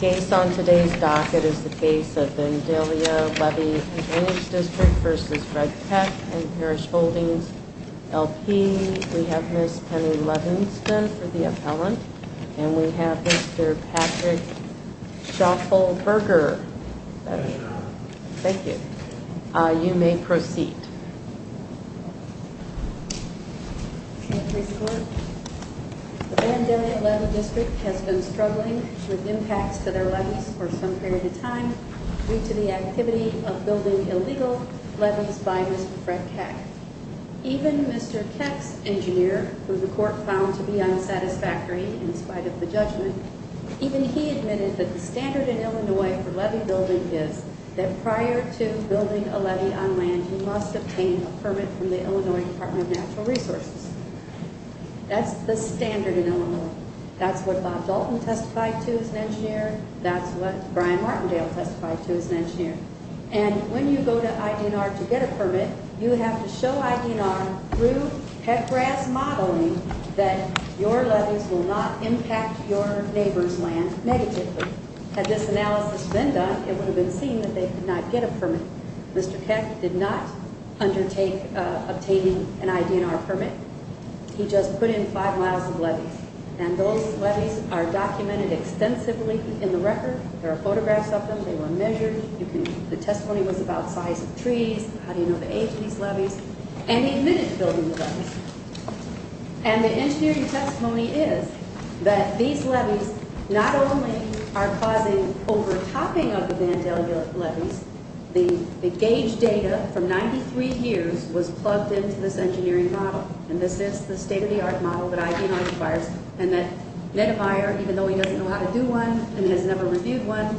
Case on today's docket is the case of Vandalia Levee and Drainage Dist. v. Fred Keck and Parrish Holdings, L.P. We have Ms. Penny Levenston for the appellant, and we have Mr. Patrick Schaufelberger. Thank you. You may proceed. Thank you, Mr. Court. The Vandalia Levee District has been struggling with impacts to their levees for some period of time due to the activity of building illegal levees by Mr. Fred Keck. Even Mr. Keck's engineer, who the Court found to be unsatisfactory in spite of the judgment, even he admitted that the standard in Illinois for levee building is that prior to building a levee on land, you must obtain a permit from the Illinois Department of Natural Resources. That's the standard in Illinois. That's what Bob Dalton testified to as an engineer. That's what Brian Martindale testified to as an engineer. And when you go to IDNR to get a permit, you have to show IDNR through Keck-Grass modeling that your levees will not impact your neighbor's land negatively. Had this analysis been done, it would have been seen that they could not get a permit. Mr. Keck did not undertake obtaining an IDNR permit. He just put in five miles of levees, and those levees are documented extensively in the record. There are photographs of them. They were measured. The testimony was about size of trees, how do you know the age of these levees, and he admitted building the levees. And the engineering testimony is that these levees not only are causing overtopping of the Vandale levees, the gauge data from 93 years was plugged into this engineering model, and this is the state-of-the-art model that IDNR requires, and that Nedemeyer, even though he doesn't know how to do one and has never reviewed one,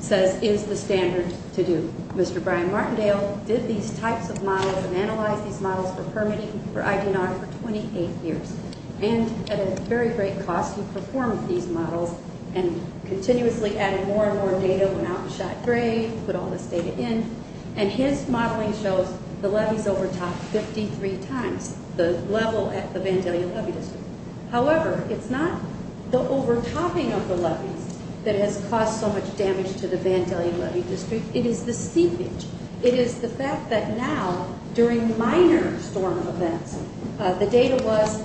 says is the standard to do. Mr. Brian Martindale did these types of models and analyzed these models for permitting for IDNR for 28 years. And at a very great cost, he performed these models and continuously added more and more data, went out and shot gray, put all this data in, and his modeling shows the levees overtop 53 times the level at the Vandalea levee district. However, it's not the overtopping of the levees that has caused so much damage to the Vandalea levee district. It is the seepage. It is the fact that now, during minor storm events, the data was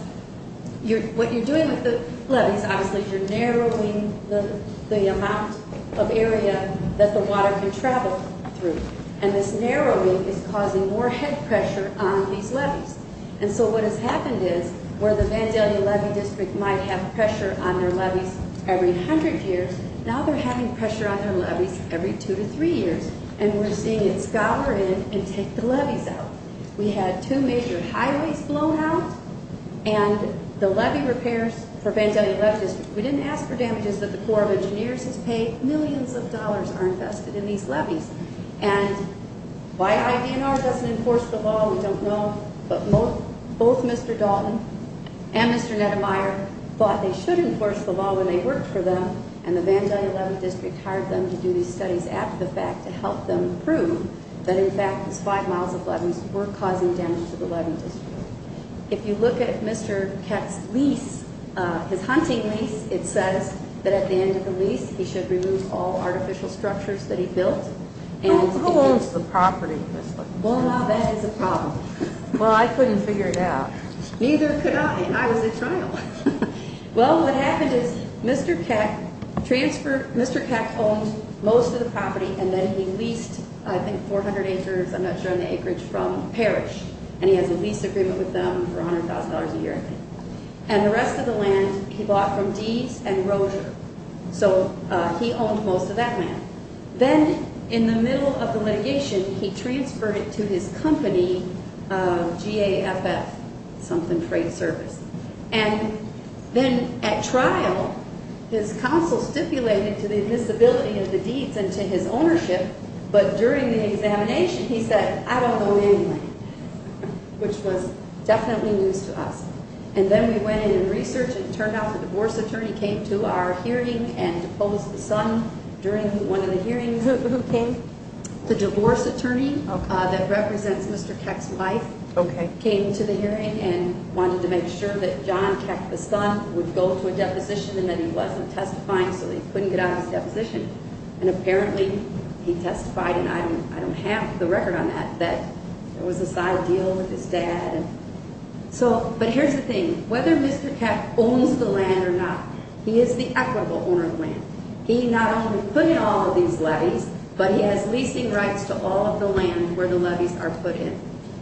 what you're doing with the levees, obviously you're narrowing the amount of area that the water can travel through, and this narrowing is causing more head pressure on these levees. And so what has happened is where the Vandalea levee district might have pressure on their levees every 100 years, now they're having pressure on their levees every two to three years, and we're seeing it scour in and take the levees out. We had two major highways blown out, and the levee repairs for Vandalea levee district, we didn't ask for damages that the Corps of Engineers has paid. Millions of dollars are invested in these levees. And why IDNR doesn't enforce the law, we don't know, but both Mr. Dalton and Mr. Neddemeyer thought they should enforce the law when they worked for them, and the Vandalea levee district hired them to do these studies after the fact to help them prove that in fact these five miles of levees were causing damage to the levee district. If you look at Mr. Kett's lease, his hunting lease, it says that at the end of the lease he should remove all artificial structures that he built. Who owns the property? Well, now that is a problem. Well, I couldn't figure it out. Neither could I, and I was at trial. Well, what happened is Mr. Kett transferred, Mr. Kett owned most of the property, and then he leased I think 400 acres, I'm not sure on the acreage, from Parrish, and he has a lease agreement with them for $100,000 a year. And the rest of the land he bought from Dease and Rozier. So he owned most of that land. Then in the middle of the litigation, he transferred it to his company, GAFF, something freight service. And then at trial, his counsel stipulated to the admissibility of the deeds and to his ownership, but during the examination he said, I don't know anyway, which was definitely news to us. And then we went in and researched it, and it turned out the divorce attorney came to our hearing and deposed the son during one of the hearings. Who came? The divorce attorney that represents Mr. Kett's wife came to the hearing and wanted to make sure that John Kett, the son, would go to a deposition and that he wasn't testifying so that he couldn't get out of his deposition. And apparently he testified, and I don't have the record on that, that there was a side deal with his dad. But here's the thing. Whether Mr. Kett owns the land or not, he is the equitable owner of the land. He not only put in all of these levees, but he has leasing rights to all of the land where the levees are put in.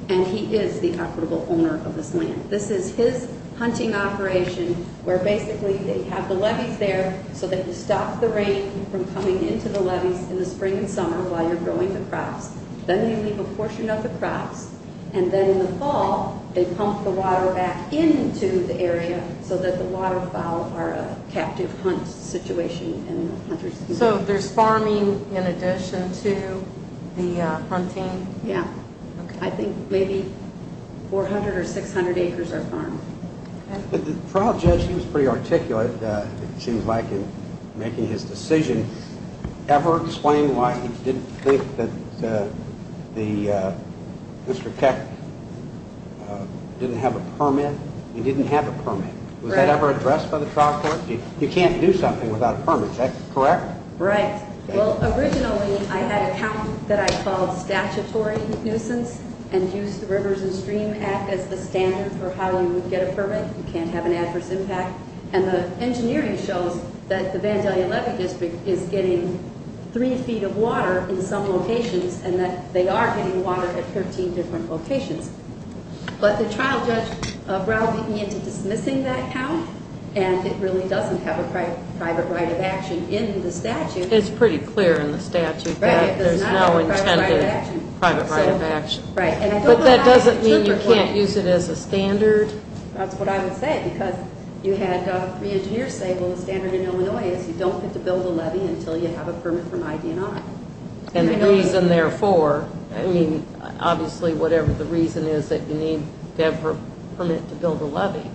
And he is the equitable owner of this land. This is his hunting operation where basically they have the levees there so that you stop the rain from coming into the levees in the spring and summer while you're growing the crops. Then you leave a portion of the crops. And then in the fall, they pump the water back into the area so that the waterfowl are a captive hunt situation. So there's farming in addition to the hunting? Yeah. I think maybe 400 or 600 acres are farmed. The trial judge, he was pretty articulate, it seems like, in making his decision. Did he ever explain why he didn't think that Mr. Kett didn't have a permit? He didn't have a permit. Was that ever addressed by the trial court? You can't do something without a permit. Is that correct? Right. Well, originally, I had a count that I called statutory nuisance and used the Rivers and Stream Act as the standard for how you would get a permit. You can't have an adverse impact. And the engineering shows that the Vandalia levee district is getting three feet of water in some locations and that they are getting water at 13 different locations. But the trial judge browbeat me into dismissing that count, and it really doesn't have a private right of action in the statute. It's pretty clear in the statute that there's no intended private right of action. Right. But that doesn't mean you can't use it as a standard. That's what I would say, because you had three engineers say, well, the standard in Illinois is you don't get to build a levee until you have a permit from ID&I. And the reason therefore, I mean, obviously, whatever the reason is, that you need to have a permit to build a levee.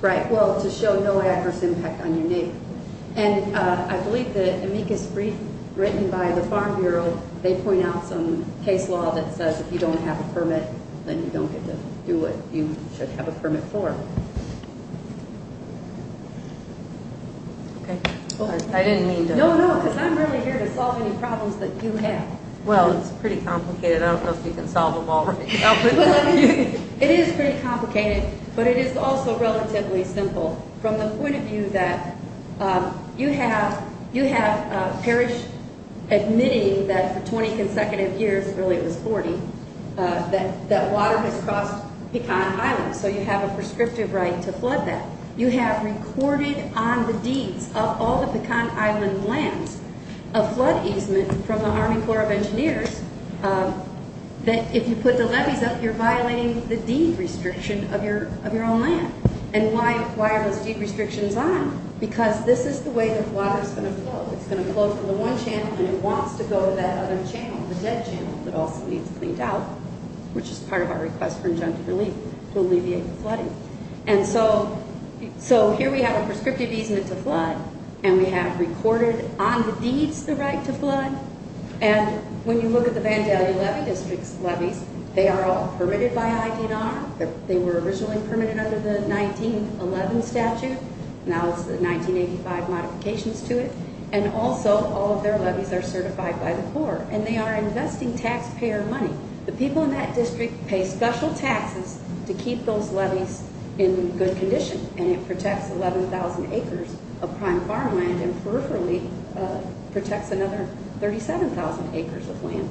Right. Well, to show no adverse impact on your need. And I believe the amicus brief written by the Farm Bureau, then you don't get to do what you should have a permit for. Okay. I didn't mean to. No, no, because I'm really here to solve any problems that you have. Well, it's pretty complicated. I don't know if you can solve them all. It is pretty complicated, but it is also relatively simple. From the point of view that you have a parish admitting that for 20 consecutive years, really it was 40, that water has crossed Pecan Island. So you have a prescriptive right to flood that. You have recorded on the deeds of all the Pecan Island lands a flood easement from the Army Corps of Engineers that if you put the levees up, you're violating the deed restriction of your own land. And why are those deed restrictions on? Well, it's going to flow from the one channel, and it wants to go to that other channel, the dead channel, that also needs cleaned out, which is part of our request for injunctive relief to alleviate the flooding. And so here we have a prescriptive easement to flood, and we have recorded on the deeds the right to flood. And when you look at the Vandalia levee district's levees, they are all permitted by ID&R. They were originally permitted under the 1911 statute. Now it's the 1985 modifications to it, and also all of their levees are certified by the Corps, and they are investing taxpayer money. The people in that district pay special taxes to keep those levees in good condition, and it protects 11,000 acres of prime farmland and peripherally protects another 37,000 acres of land.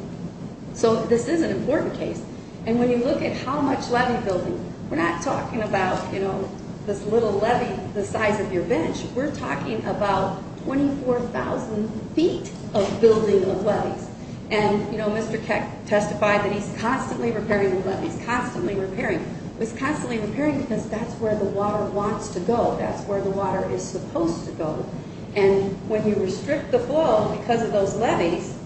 So this is an important case, and when you look at how much levee building, we're not talking about, you know, this little levee the size of your bench. We're talking about 24,000 feet of building of levees. And, you know, Mr. Keck testified that he's constantly repairing the levees, constantly repairing. He's constantly repairing because that's where the water wants to go. That's where the water is supposed to go. And when you restrict the flow because of those levees,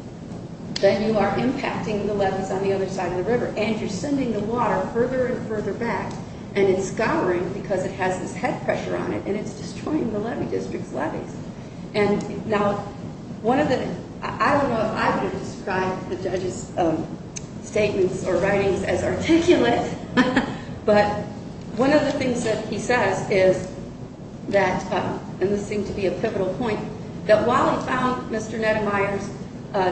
then you are impacting the levees on the other side of the river, and you're sending the water further and further back, and it's scouring because it has this head pressure on it, and it's destroying the levee district's levees. And now one of the ñ I don't know if I would have described the judge's statements or writings as articulate, but one of the things that he says is that, and this seemed to be a pivotal point, that while he found Mr. Neddemeyer's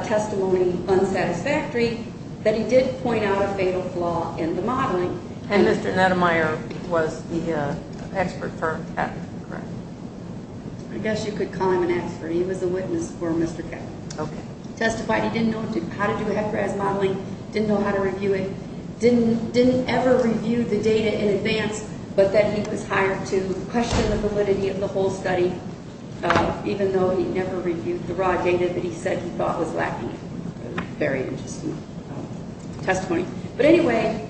testimony unsatisfactory, that he did point out a fatal flaw in the modeling. And Mr. Neddemeyer was the expert for Keck, correct? I guess you could call him an expert. He was a witness for Mr. Keck. Okay. Testified he didn't know how to do head press modeling, didn't know how to review it, didn't ever review the data in advance, but that he was hired to question the validity of the whole study, even though he never reviewed the raw data that he said he thought was lacking. Very interesting testimony. But anyway,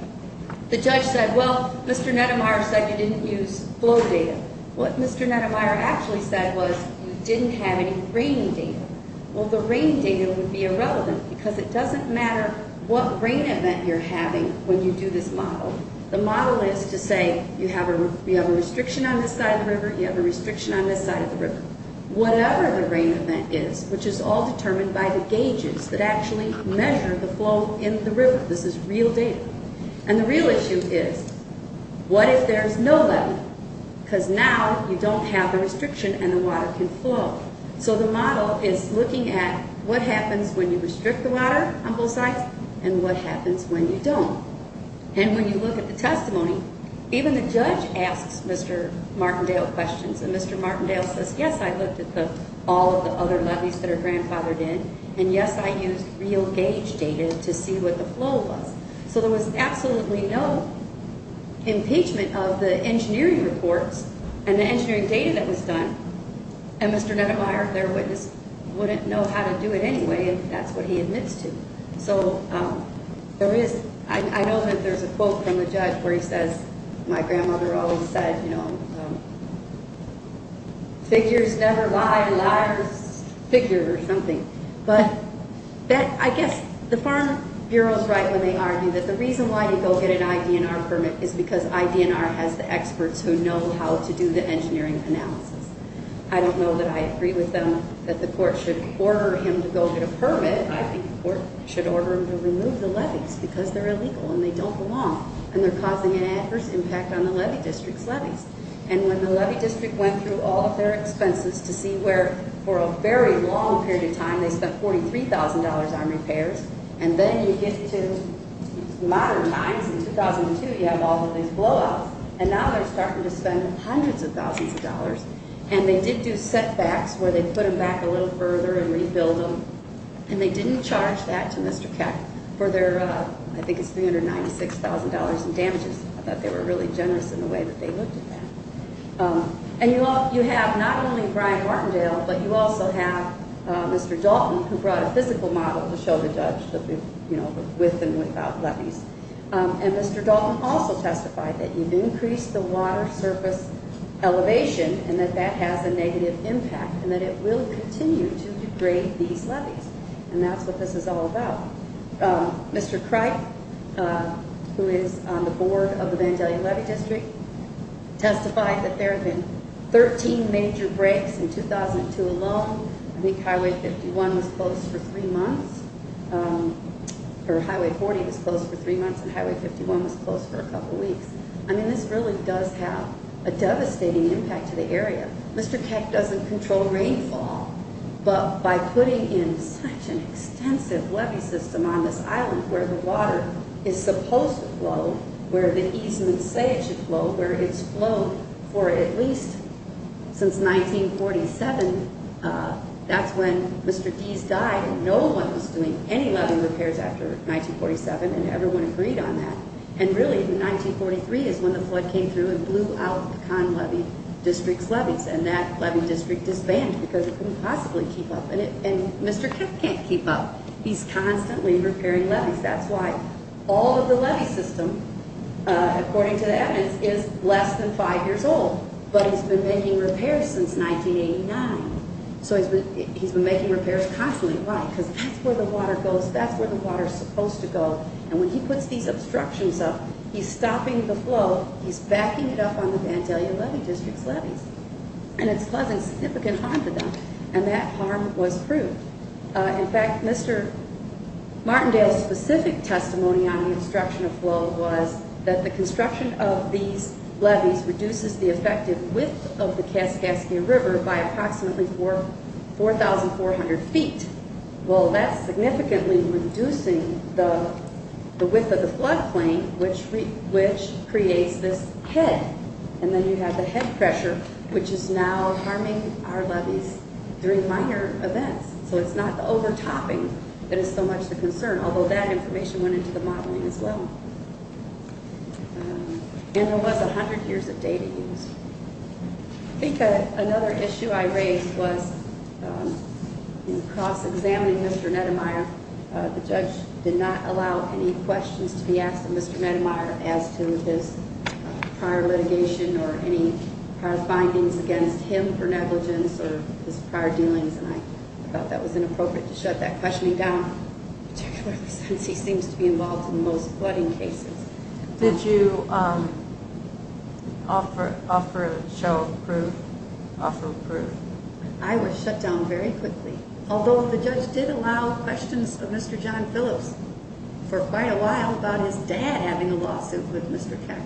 the judge said, well, Mr. Neddemeyer said you didn't use flow data. What Mr. Neddemeyer actually said was you didn't have any rain data. Well, the rain data would be irrelevant because it doesn't matter what rain event you're having when you do this model. The model is to say you have a restriction on this side of the river, you have a restriction on this side of the river. Whatever the rain event is, which is all determined by the gauges that actually measure the flow in the river, this is real data. And the real issue is what if there's no level? Because now you don't have the restriction and the water can flow. So the model is looking at what happens when you restrict the water on both sides and what happens when you don't. And when you look at the testimony, even the judge asks Mr. Martindale questions. And Mr. Martindale says, yes, I looked at all of the other lobbies that are grandfathered in. And yes, I used real gauge data to see what the flow was. So there was absolutely no impeachment of the engineering reports and the engineering data that was done. And Mr. Neddemeyer, their witness, wouldn't know how to do it anyway if that's what he admits to. So I know that there's a quote from the judge where he says, my grandmother always said, you know, figures never lie, liar's figure or something. But I guess the Farm Bureau's right when they argue that the reason why you go get an IDNR permit is because IDNR has the experts who know how to do the engineering analysis. I don't know that I agree with them that the court should order him to go get a permit. Instead, I think the court should order him to remove the levies because they're illegal and they don't belong. And they're causing an adverse impact on the levy district's levies. And when the levy district went through all of their expenses to see where, for a very long period of time, they spent $43,000 on repairs. And then you get to modern times. In 2002, you have all of these blowouts. And now they're starting to spend hundreds of thousands of dollars. And they did do setbacks where they put them back a little further and rebuild them. And they didn't charge that to Mr. Keck for their, I think it's $396,000 in damages. I thought they were really generous in the way that they looked at that. And you have not only Brian Martindale, but you also have Mr. Dalton, who brought a physical model to show the judge, you know, with and without levies. And Mr. Dalton also testified that you've increased the water surface elevation and that that has a negative impact and that it will continue to degrade these levies. And that's what this is all about. Mr. Cripe, who is on the board of the Vandalia Levy District, testified that there have been 13 major breaks in 2002 alone. I think Highway 51 was closed for three months. Or Highway 40 was closed for three months and Highway 51 was closed for a couple weeks. I mean, this really does have a devastating impact to the area. Mr. Keck doesn't control rainfall, but by putting in such an extensive levy system on this island where the water is supposed to flow, where the easements say it should flow, where it's flowed for at least since 1947, that's when Mr. Deese died and no one was doing any levy repairs after 1947 and everyone agreed on that. And really in 1943 is when the flood came through and blew out the Conn Levy District's levies. And that levy district disbanded because it couldn't possibly keep up. And Mr. Keck can't keep up. He's constantly repairing levies. That's why all of the levy system, according to the evidence, is less than five years old. But he's been making repairs since 1989. So he's been making repairs constantly. Why? Because that's where the water goes. That's where the water is supposed to go. And when he puts these obstructions up, he's stopping the flow. He's backing it up on the Vandalia Levy District's levies. And it's causing significant harm to them. And that harm was proved. In fact, Mr. Martindale's specific testimony on the obstruction of flow was that the construction of these levies reduces the effective width of the Kaskaskia River by approximately 4,400 feet. Well, that's significantly reducing the width of the floodplain, which creates this head. And then you have the head pressure, which is now harming our levies during minor events. So it's not the overtopping that is so much the concern, although that information went into the modeling as well. And there was 100 years of data use. I think another issue I raised was in cross-examining Mr. Neddemeyer, the judge did not allow any questions to be asked of Mr. Neddemeyer as to his prior litigation or any prior findings against him for negligence or his prior dealings. And I thought that was inappropriate to shut that questioning down, particularly since he seems to be involved in most flooding cases. Did you offer a show of proof? I was shut down very quickly, although the judge did allow questions of Mr. John Phillips for quite a while about his dad having a lawsuit with Mr. Keck.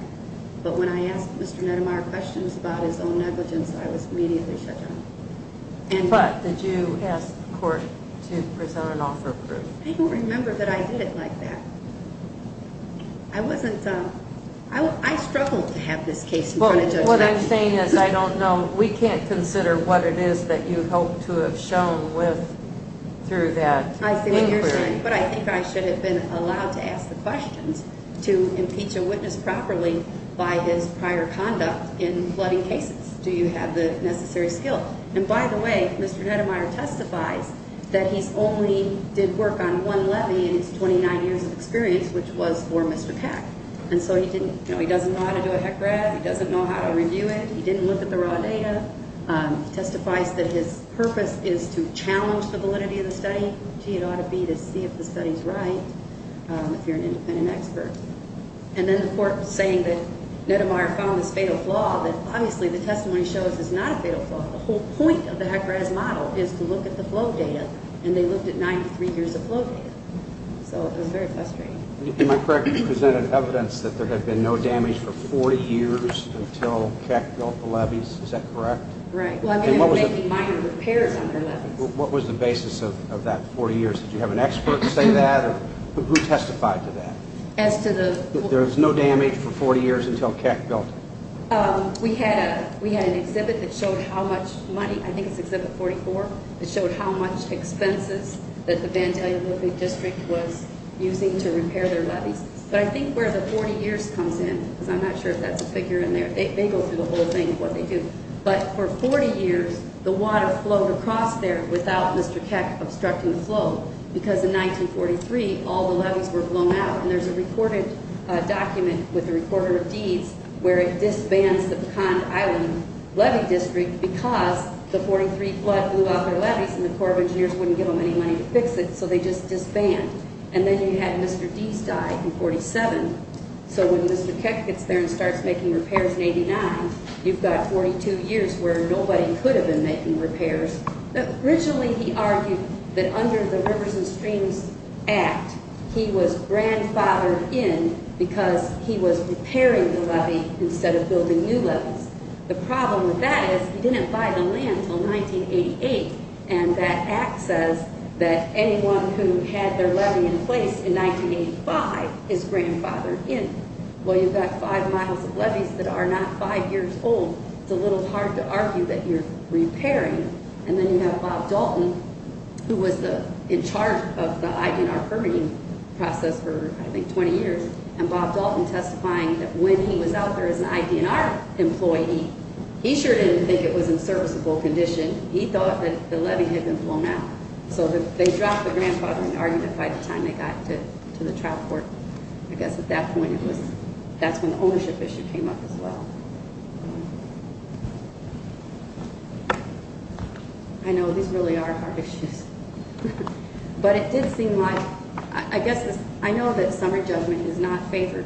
But when I asked Mr. Neddemeyer questions about his own negligence, I was immediately shut down. But did you ask the court to present an offer of proof? I don't remember that I did it like that. I struggled to have this case in front of Judge Ratchett. What I'm saying is I don't know. We can't consider what it is that you hope to have shown through that inquiry. But I think I should have been allowed to ask the questions to impeach a witness properly by his prior conduct in flooding cases. Do you have the necessary skill? And by the way, Mr. Neddemeyer testifies that he only did work on one levy in his 29 years of experience, which was for Mr. Keck. And so he doesn't know how to do a heck grab. He doesn't know how to review it. He didn't look at the raw data. He testifies that his purpose is to challenge the validity of the study. Gee, it ought to be to see if the study's right if you're an independent expert. And then the court was saying that Neddemeyer found this fatal flaw that obviously the testimony shows is not a fatal flaw. The whole point of the heck grab model is to look at the flow data, and they looked at 93 years of flow data. So it was very frustrating. Am I correct that you presented evidence that there had been no damage for 40 years until Keck built the levies? Is that correct? Right. Well, I mean, they were making minor repairs on their levies. What was the basis of that 40 years? Did you have an expert say that, or who testified to that? That there was no damage for 40 years until Keck built it. We had an exhibit that showed how much money, I think it's exhibit 44, that showed how much expenses that the Vantelli Olympic District was using to repair their levies. But I think where the 40 years comes in, because I'm not sure if that's a figure in there, they go through the whole thing of what they do, but for 40 years the water flowed across there without Mr. Keck obstructing the flow because in 1943 all the levies were blown out. And there's a recorded document with the Reporter of Deeds where it disbands the Pecan Island Levy District because the 43 flood blew out their levies and the Corps of Engineers wouldn't give them any money to fix it, so they just disband. And then you had Mr. Deese die in 1947, so when Mr. Keck gets there and starts making repairs in 89, you've got 42 years where nobody could have been making repairs. Originally he argued that under the Rivers and Streams Act he was grandfathered in because he was repairing the levy instead of building new levies. The problem with that is he didn't buy the land until 1988, and that act says that anyone who had their levy in place in 1985 is grandfathered in. Well, you've got five miles of levies that are not five years old. It's a little hard to argue that you're repairing. And then you have Bob Dalton, who was in charge of the ID&R permitting process for, I think, 20 years, and Bob Dalton testifying that when he was out there as an ID&R employee, he sure didn't think it was in serviceable condition. He thought that the levy had been blown out. So they dropped the grandfathering argument by the time they got to the trial court. I guess at that point that's when the ownership issue came up as well. I know these really are hard issues. But it did seem like, I know that summary judgment is not favored,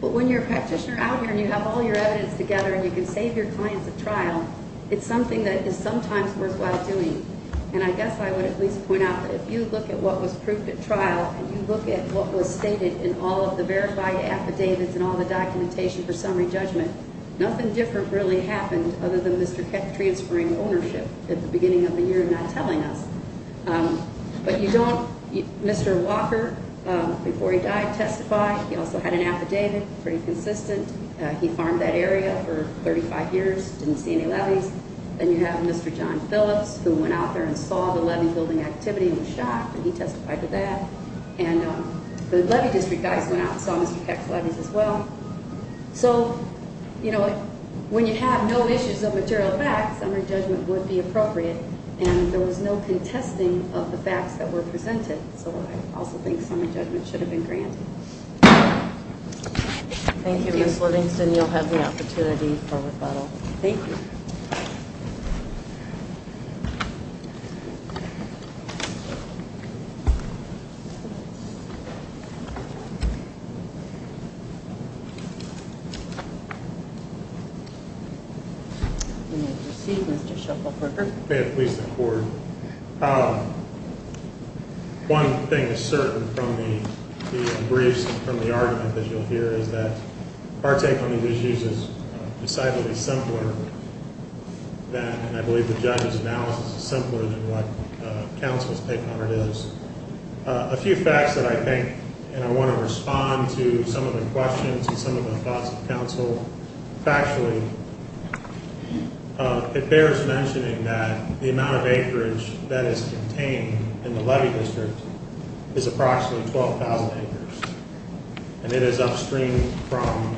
but when you're a practitioner out here and you have all your evidence together and you can save your clients a trial, it's something that is sometimes worthwhile doing. And I guess I would at least point out that if you look at what was proved at trial and you look at what was stated in all of the verified affidavits and all the documentation for summary judgment, nothing different really happened other than Mr. Keck transferring ownership at the beginning of the year and not telling us. But you don't, Mr. Walker, before he died, testified. He also had an affidavit, pretty consistent. He farmed that area for 35 years, didn't see any levies. Then you have Mr. John Phillips, who went out there and saw the levy-building activity and was shocked that he testified to that. And the levy district guys went out and saw Mr. Keck's levies as well. So when you have no issues of material facts, summary judgment would be appropriate, and there was no contesting of the facts that were presented. So I also think summary judgment should have been granted. Thank you, Ms. Livingston. You'll have the opportunity for rebuttal. Thank you. Thank you. You may proceed, Mr. Shuffleberger. May it please the Court. One thing is certain from the briefs and from the argument that you'll hear is that our take on these issues is decidedly simpler than, and I believe the judge's analysis is simpler than what counsel's take on it is. A few facts that I think, and I want to respond to some of the questions and some of the thoughts of counsel factually. It bears mentioning that the amount of acreage that is contained in the levy district is approximately 12,000 acres, and it is upstream from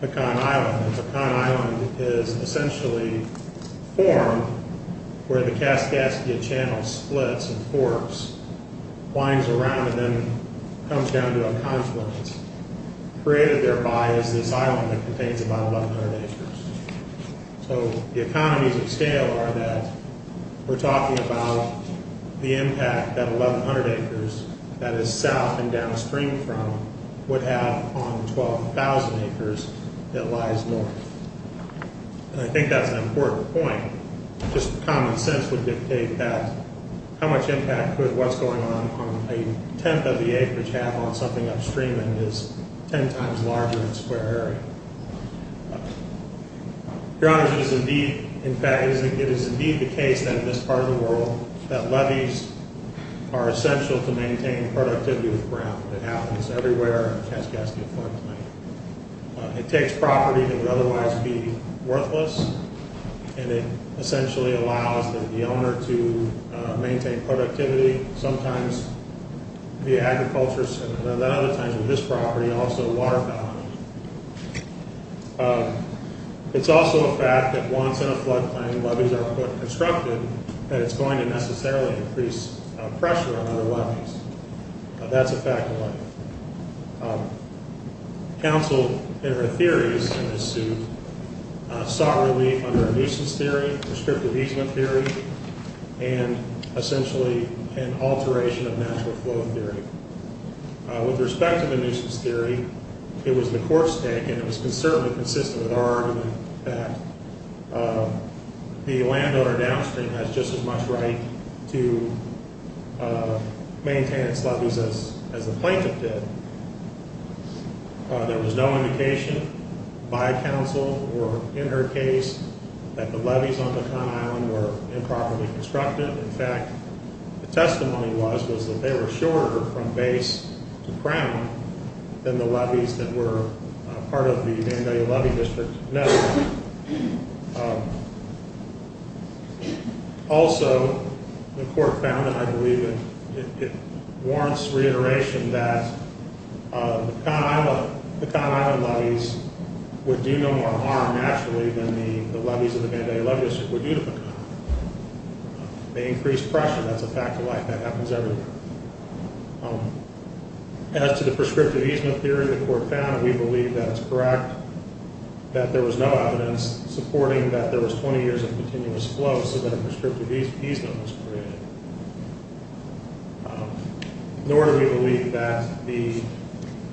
Pecan Island. Pecan Island is essentially formed where the Kaskaskia Channel splits and forks, winds around and then comes down to a confluence. Created thereby is this island that contains about 1,100 acres. So the economies of scale are that we're talking about the impact that 1,100 acres, that is south and downstream from, would have on the 12,000 acres that lies north. And I think that's an important point. Just common sense would dictate that how much impact would what's going on on a tenth of the acreage have on something upstream that is ten times larger in square area. Your Honor, it is indeed the case that in this part of the world that levies are essential to maintain productivity with ground. It happens everywhere on the Kaskaskia floodplain. It takes property that would otherwise be worthless, and it essentially allows the owner to maintain productivity, sometimes via agriculture, and then other times with this property, also water value. It's also a fact that once in a floodplain levies are constructed, that it's going to necessarily increase pressure on other levies. That's a fact of life. Counsel in her theories in this suit sought relief under a nuisance theory, prescriptive easement theory, and essentially an alteration of natural flow theory. With respect to the nuisance theory, it was the court's take, and it was certainly consistent with our argument that the landowner downstream has just as much right to maintain its levies as the plaintiff did. There was no indication by counsel or in her case that the levies on the Con Island were improperly constructed. In fact, the testimony was that they were shorter from base to crown than the levies that were part of the Vandalia Levy District. Also, the court found, and I believe it warrants reiteration, that the Con Island levies would do no more harm naturally than the levies of the Vandalia Levy District would do to the Con Island. They increased pressure. That's a fact of life. That happens everywhere. As to the prescriptive easement theory, the court found, and we believe that it's correct, that there was no evidence supporting that there was 20 years of continuous flow so that a prescriptive easement was created. Nor do we believe that the...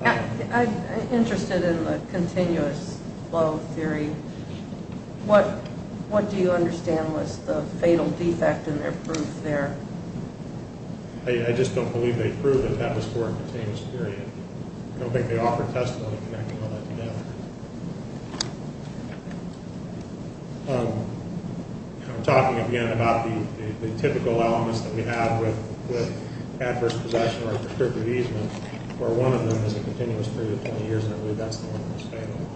I'm interested in the continuous flow theory. What do you understand was the fatal defect in their proof there? I just don't believe they proved that that was for a continuous period. I don't think they offered testimony connecting all that to them. Talking again about the typical elements that we have with adverse possession or a prescriptive easement, where one of them has a continuous period of 20 years, and I believe that's the one that was fatal.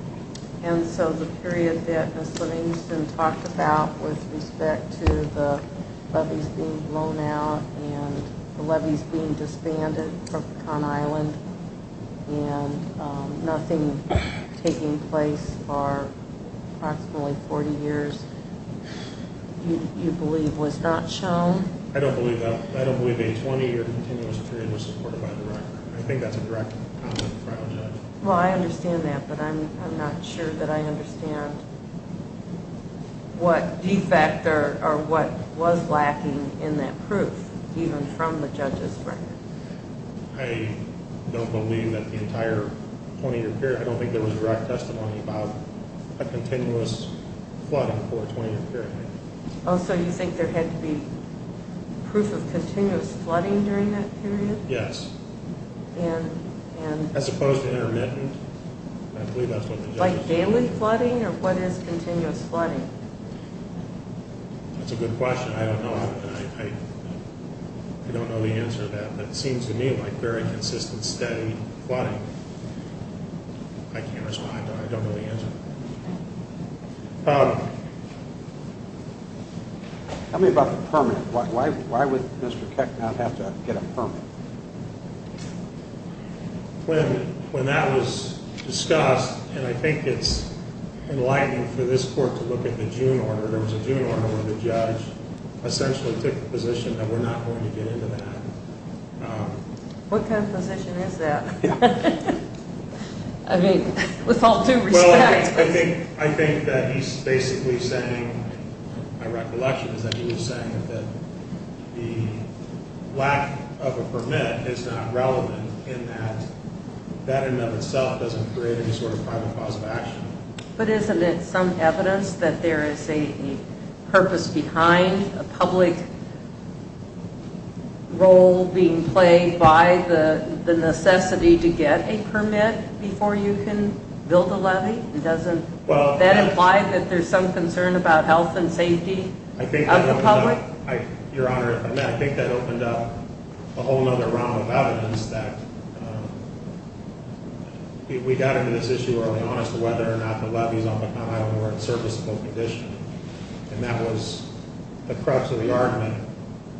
And so the period that Ms. Livingston talked about with respect to the levies being blown out and the levies being disbanded from Con Island and nothing taking place for approximately 40 years, you believe was not shown? I don't believe that. I don't believe a 20-year continuous period was supported by the record. I think that's a direct comment from the judge. Well, I understand that, but I'm not sure that I understand what defect or what was lacking in that proof, even from the judge's record. I don't believe that the entire 20-year period... I don't think there was direct testimony about a continuous flooding for a 20-year period. Oh, so you think there had to be proof of continuous flooding during that period? Yes. As opposed to intermittent? I believe that's what the judge said. Like daily flooding, or what is continuous flooding? That's a good question. I don't know. I don't know the answer to that, but it seems to me like very consistent steady flooding. I can't respond to that. I don't know the answer. Tell me about the permanent. Why would Mr. Keck not have to get a permanent? When that was discussed, and I think it's enlightening for this court to look at the June order. There was a June order where the judge essentially took the position that we're not going to get into that. What kind of position is that? I mean, with all due respect. I think that he's basically saying, my recollection is that he was saying that the lack of a permit is not relevant in that that in and of itself doesn't create any sort of private cause of action. But isn't it some evidence that there is a purpose behind a public role being played by the necessity to get a permit before you can build a levee? Doesn't that imply that there's some concern about health and safety of the public? Your Honor, I think that opened up a whole other round of evidence that we got into this issue early on as to whether or not the levees on the Conn Island were in serviceable condition. And the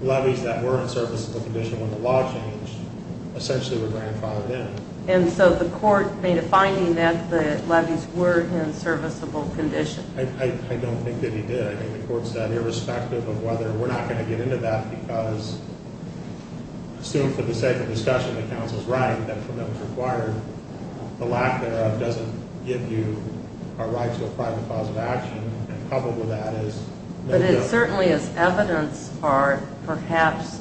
levees that were in serviceable condition when the law changed essentially were grandfathered in. And so the court made a finding that the levees were in serviceable condition? I don't think that he did. I think the court said, irrespective of whether we're not going to get into that, because I assume for the sake of discussion, the counsel's right that a permit was required. The lack thereof doesn't give you a right to a private cause of action, and coupled with that is no guilt. But it certainly is evidence or perhaps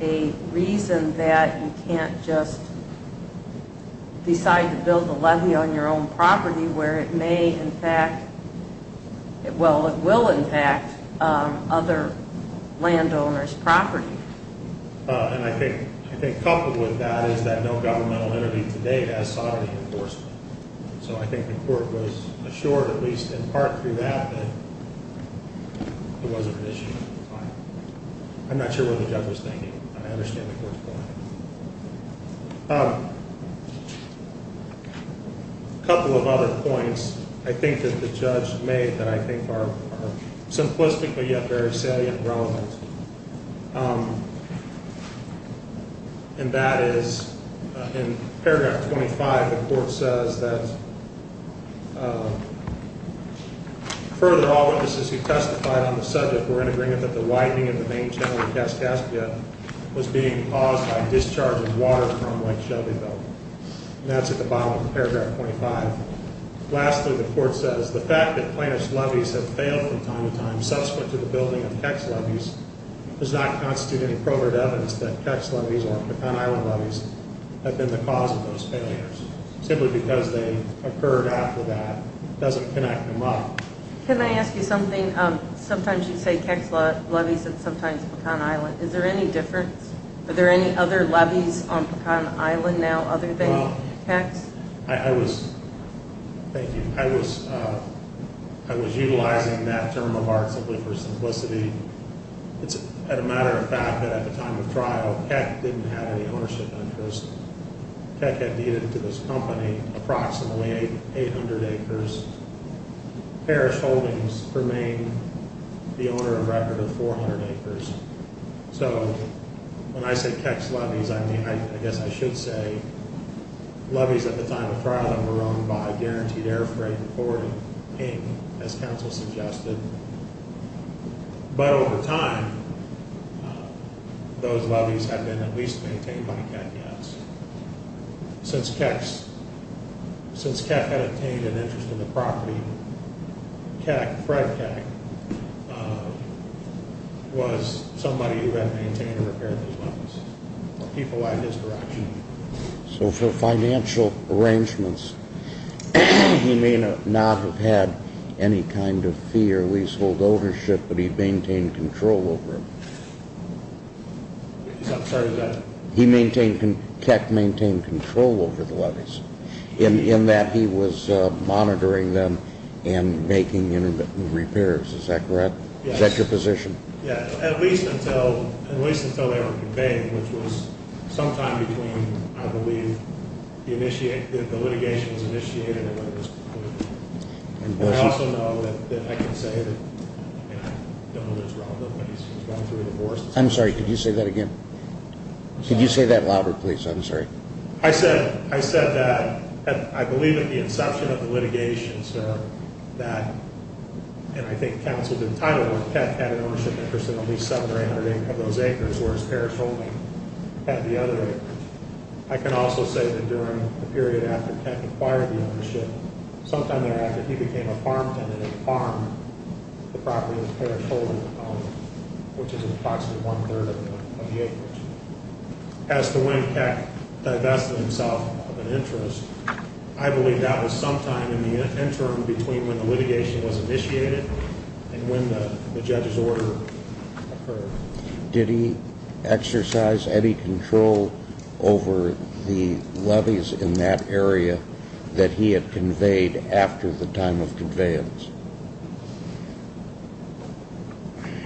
a reason that you can't just decide to build a levee on your own property where it may in fact, well it will in fact, other landowners' property. And I think coupled with that is that no governmental entity today has sovereignty enforcement. So I think the court was assured, at least in part through that, that it wasn't an issue at the time. I'm not sure what the judge was thinking, but I understand the court's point. A couple of other points I think that the judge made that I think are simplistically yet very salient and relevant. And that is in paragraph 25, the court says that further all witnesses who testified on the subject were in agreement that the widening of the main channel in Cascaspia was being caused by discharging water from Lake Shelbyville. And that's at the bottom of paragraph 25. Lastly, the court says the fact that plaintiff's levees have failed from time to time, subsequent to the building of Keck's levees, does not constitute any proven evidence that Keck's levees or Pecan Island levees have been the cause of those failures. Simply because they occurred after that doesn't connect them up. Can I ask you something? Sometimes you say Keck's levees and sometimes Pecan Island. Is there any difference? Are there any other levees on Pecan Island now other than Keck's? Thank you. I was utilizing that term of art simply for simplicity. It's a matter of fact that at the time of trial, Keck didn't have any ownership interest. Keck had deeded to this company approximately 800 acres. Parish Holdings remained the owner of rather than 400 acres. So when I say Keck's levees, I guess I should say levees at the time of trial that were owned by Guaranteed Air Freight and Florida, Inc., as counsel suggested. But over time, those levees have been at least maintained by Keck, yes. Since Keck had obtained an interest in the property, Keck, Fred Keck, was somebody who had maintained and repaired those levees. He provided his direction. So for financial arrangements, he may not have had any kind of fee or leasehold ownership, but he maintained control over it. Keck maintained control over the levees in that he was monitoring them and making repairs. Is that correct? Yes. Is that your position? Yes, at least until they were conveyed, which was sometime between, I believe, the litigation was initiated and when it was concluded. I also know that I can say that I don't know that it's relevant when he's gone through a divorce. I'm sorry, could you say that again? Could you say that louder, please? I'm sorry. I said that I believe at the inception of the litigation, sir, that, and I think counsel did title it, that Keck had an ownership interest in at least 700 or 800 of those acres, whereas Parrish Holding had the other acres. I can also say that during the period after Keck acquired the ownership, sometime thereafter, he became a farm tenant on the property of Parrish Holding, which is approximately one-third of the acres. As to when Keck divested himself of an interest, I believe that was sometime in the interim between when the litigation was initiated and when the judge's order occurred. Did he exercise any control over the levies in that area that he had conveyed after the time of conveyance?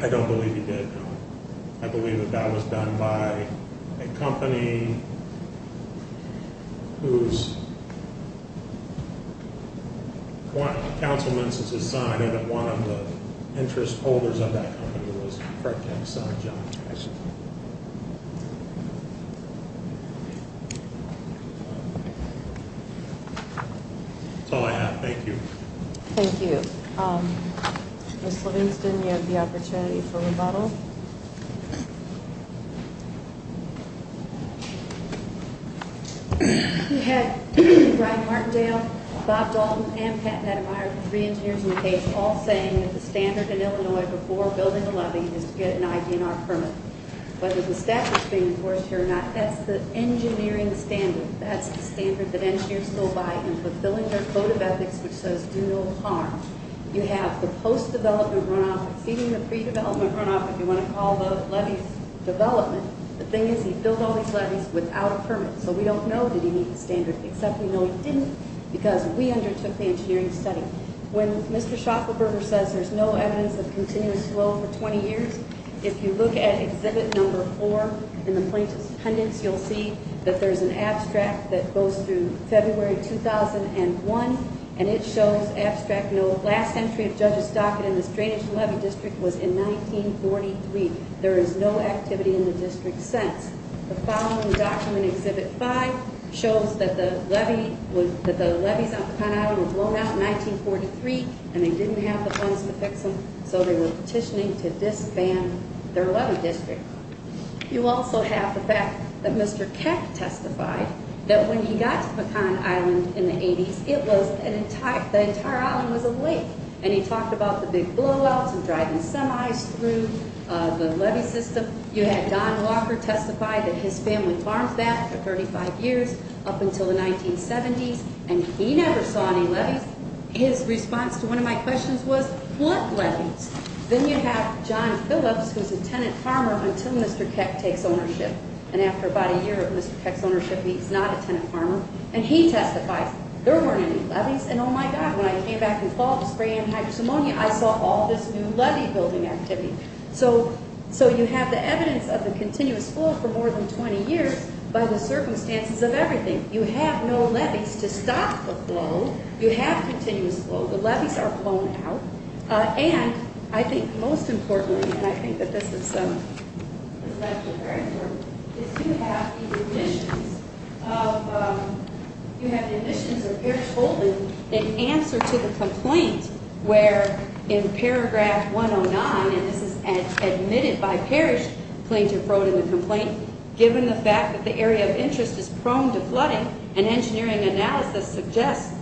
I don't believe he did, no. That's all I have. Thank you. Thank you. Ms. Livingston, you have the opportunity for rebuttal. We had Brian Martindale, Bob Dalton, and Pat Metamire, the three engineers in the case, all saying that the standard in Illinois before building a levy is to get an ID&R permit. Whether the statute is being enforced here or not, that's the engineering standard. That's the standard that engineers go by in fulfilling their code of ethics, which says do no harm. You have the post-development runoff exceeding the pre-development runoff, if you want to call the levies development. The thing is, he filled all these levies without a permit, so we don't know did he meet the standard, except we know he didn't because we undertook the engineering study. When Mr. Schaffelberger says there's no evidence of continuous flow for 20 years, if you look at Exhibit No. 4 in the plaintiff's pendants, you'll see that there's an abstract that goes through February 2001, and it shows abstract note, last entry of Judge's docket in the drainage levy district was in 1943. There is no activity in the district since. The following document, Exhibit 5, shows that the levies on Pecan Island were blown out in 1943, and they didn't have the funds to fix them, so they were petitioning to disband their levy district. You also have the fact that Mr. Keck testified that when he got to Pecan Island in the 80s, the entire island was a lake, and he talked about the big blowouts and driving semis through the levy system. You had Don Walker testify that his family farmed that for 35 years up until the 1970s, and he never saw any levies. His response to one of my questions was, what levies? Then you have John Phillips, who's a tenant farmer until Mr. Keck takes ownership, and after about a year of Mr. Keck's ownership, he's not a tenant farmer, and he testifies. There weren't any levies, and oh, my God, when I came back in the fall to spray antihydrosomonia, I saw all this new levy-building activity. So you have the evidence of the continuous flow for more than 20 years by the circumstances of everything. You have no levies to stop the flow. You have continuous flow. The levies are blown out, and I think most importantly, and I think that this is actually very important, is you have the admissions of Parrish Holden in answer to the complaint where in paragraph 109, and this is admitted by Parrish, Plaintiff wrote in the complaint, given the fact that the area of interest is prone to flooding, an engineering analysis suggests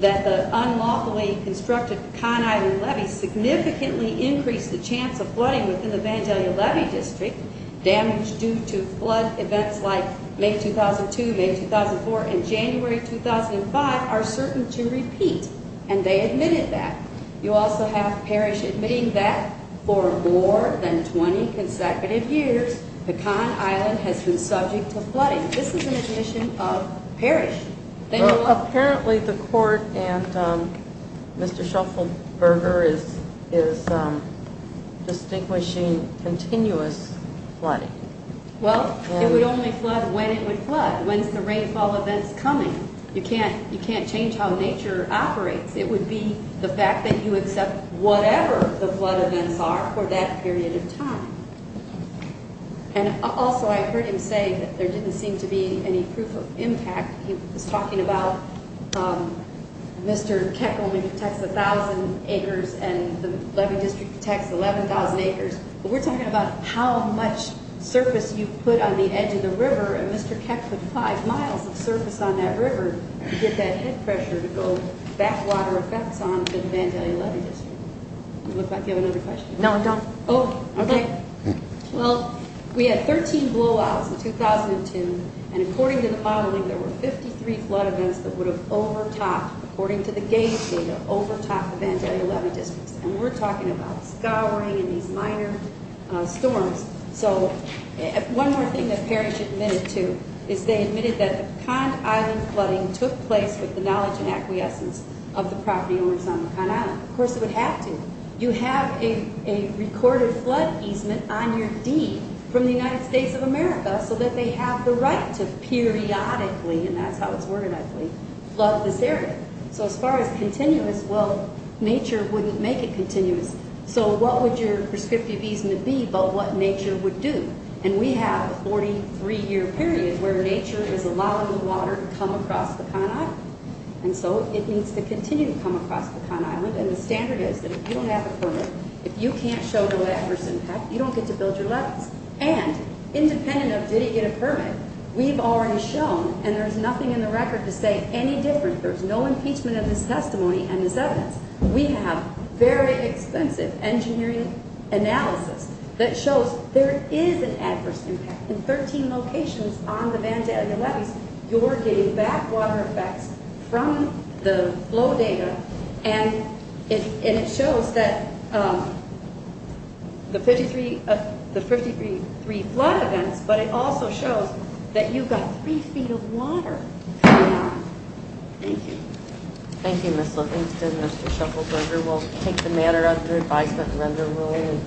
that the unlawfully constructed Pecan Island levy significantly increased the chance of flooding within the Vandalia Levy District. Damage due to flood events like May 2002, May 2004, and January 2005 are certain to repeat, and they admitted that. You also have Parrish admitting that for more than 20 consecutive years, Pecan Island has been subject to flooding. This is an admission of Parrish. Apparently, the court and Mr. Shuffelberger is distinguishing continuous flooding. Well, it would only flood when it would flood. When's the rainfall events coming? You can't change how nature operates. It would be the fact that you accept whatever the flood events are for that period of time. And also, I heard him say that there didn't seem to be any proof of impact. He was talking about Mr. Keck only protects 1,000 acres and the levy district protects 11,000 acres, but we're talking about how much surface you put on the edge of the river, and Mr. Keck put five miles of surface on that river to get that head pressure to go backwater effects onto the Vandalia Levy District. Would you like to have another question? No, I'm done. Oh, okay. Well, we had 13 blowouts in 2002, and according to the modeling, there were 53 flood events that would have overtopped, according to the gauge data, overtopped the Vandalia Levy District, and we're talking about scouring and these minor storms. So one more thing that Parrish admitted to is they admitted that the Cond Island flooding took place with the knowledge and acquiescence of the property owners on the Cond Island. Of course, it would have to. You have a recorded flood easement on your deed from the United States of America so that they have the right to periodically, and that's how it's worded, I believe, flood this area. So as far as continuous, well, nature wouldn't make it continuous. So what would your prescriptive easement be but what nature would do? And we have a 43-year period where nature is allowing the water to come across the Cond Island, and so it needs to continue to come across the Cond Island, and the standard is that if you don't have a permit, if you can't show the land first impact, you don't get to build your levels. And independent of did he get a permit, we've already shown, and there's nothing in the record to say any different. There's no impeachment of his testimony and his evidence. We have very extensive engineering analysis that shows there is an adverse impact. In 13 locations on the Vanda and the levees, you're getting back water effects from the flow data, and it shows that the 53 flood events, but it also shows that you've got three feet of water coming out. Thank you. Thank you, Ms. Livingston. Mr. Shuffles, we'll take the matter under advisement and render ruling.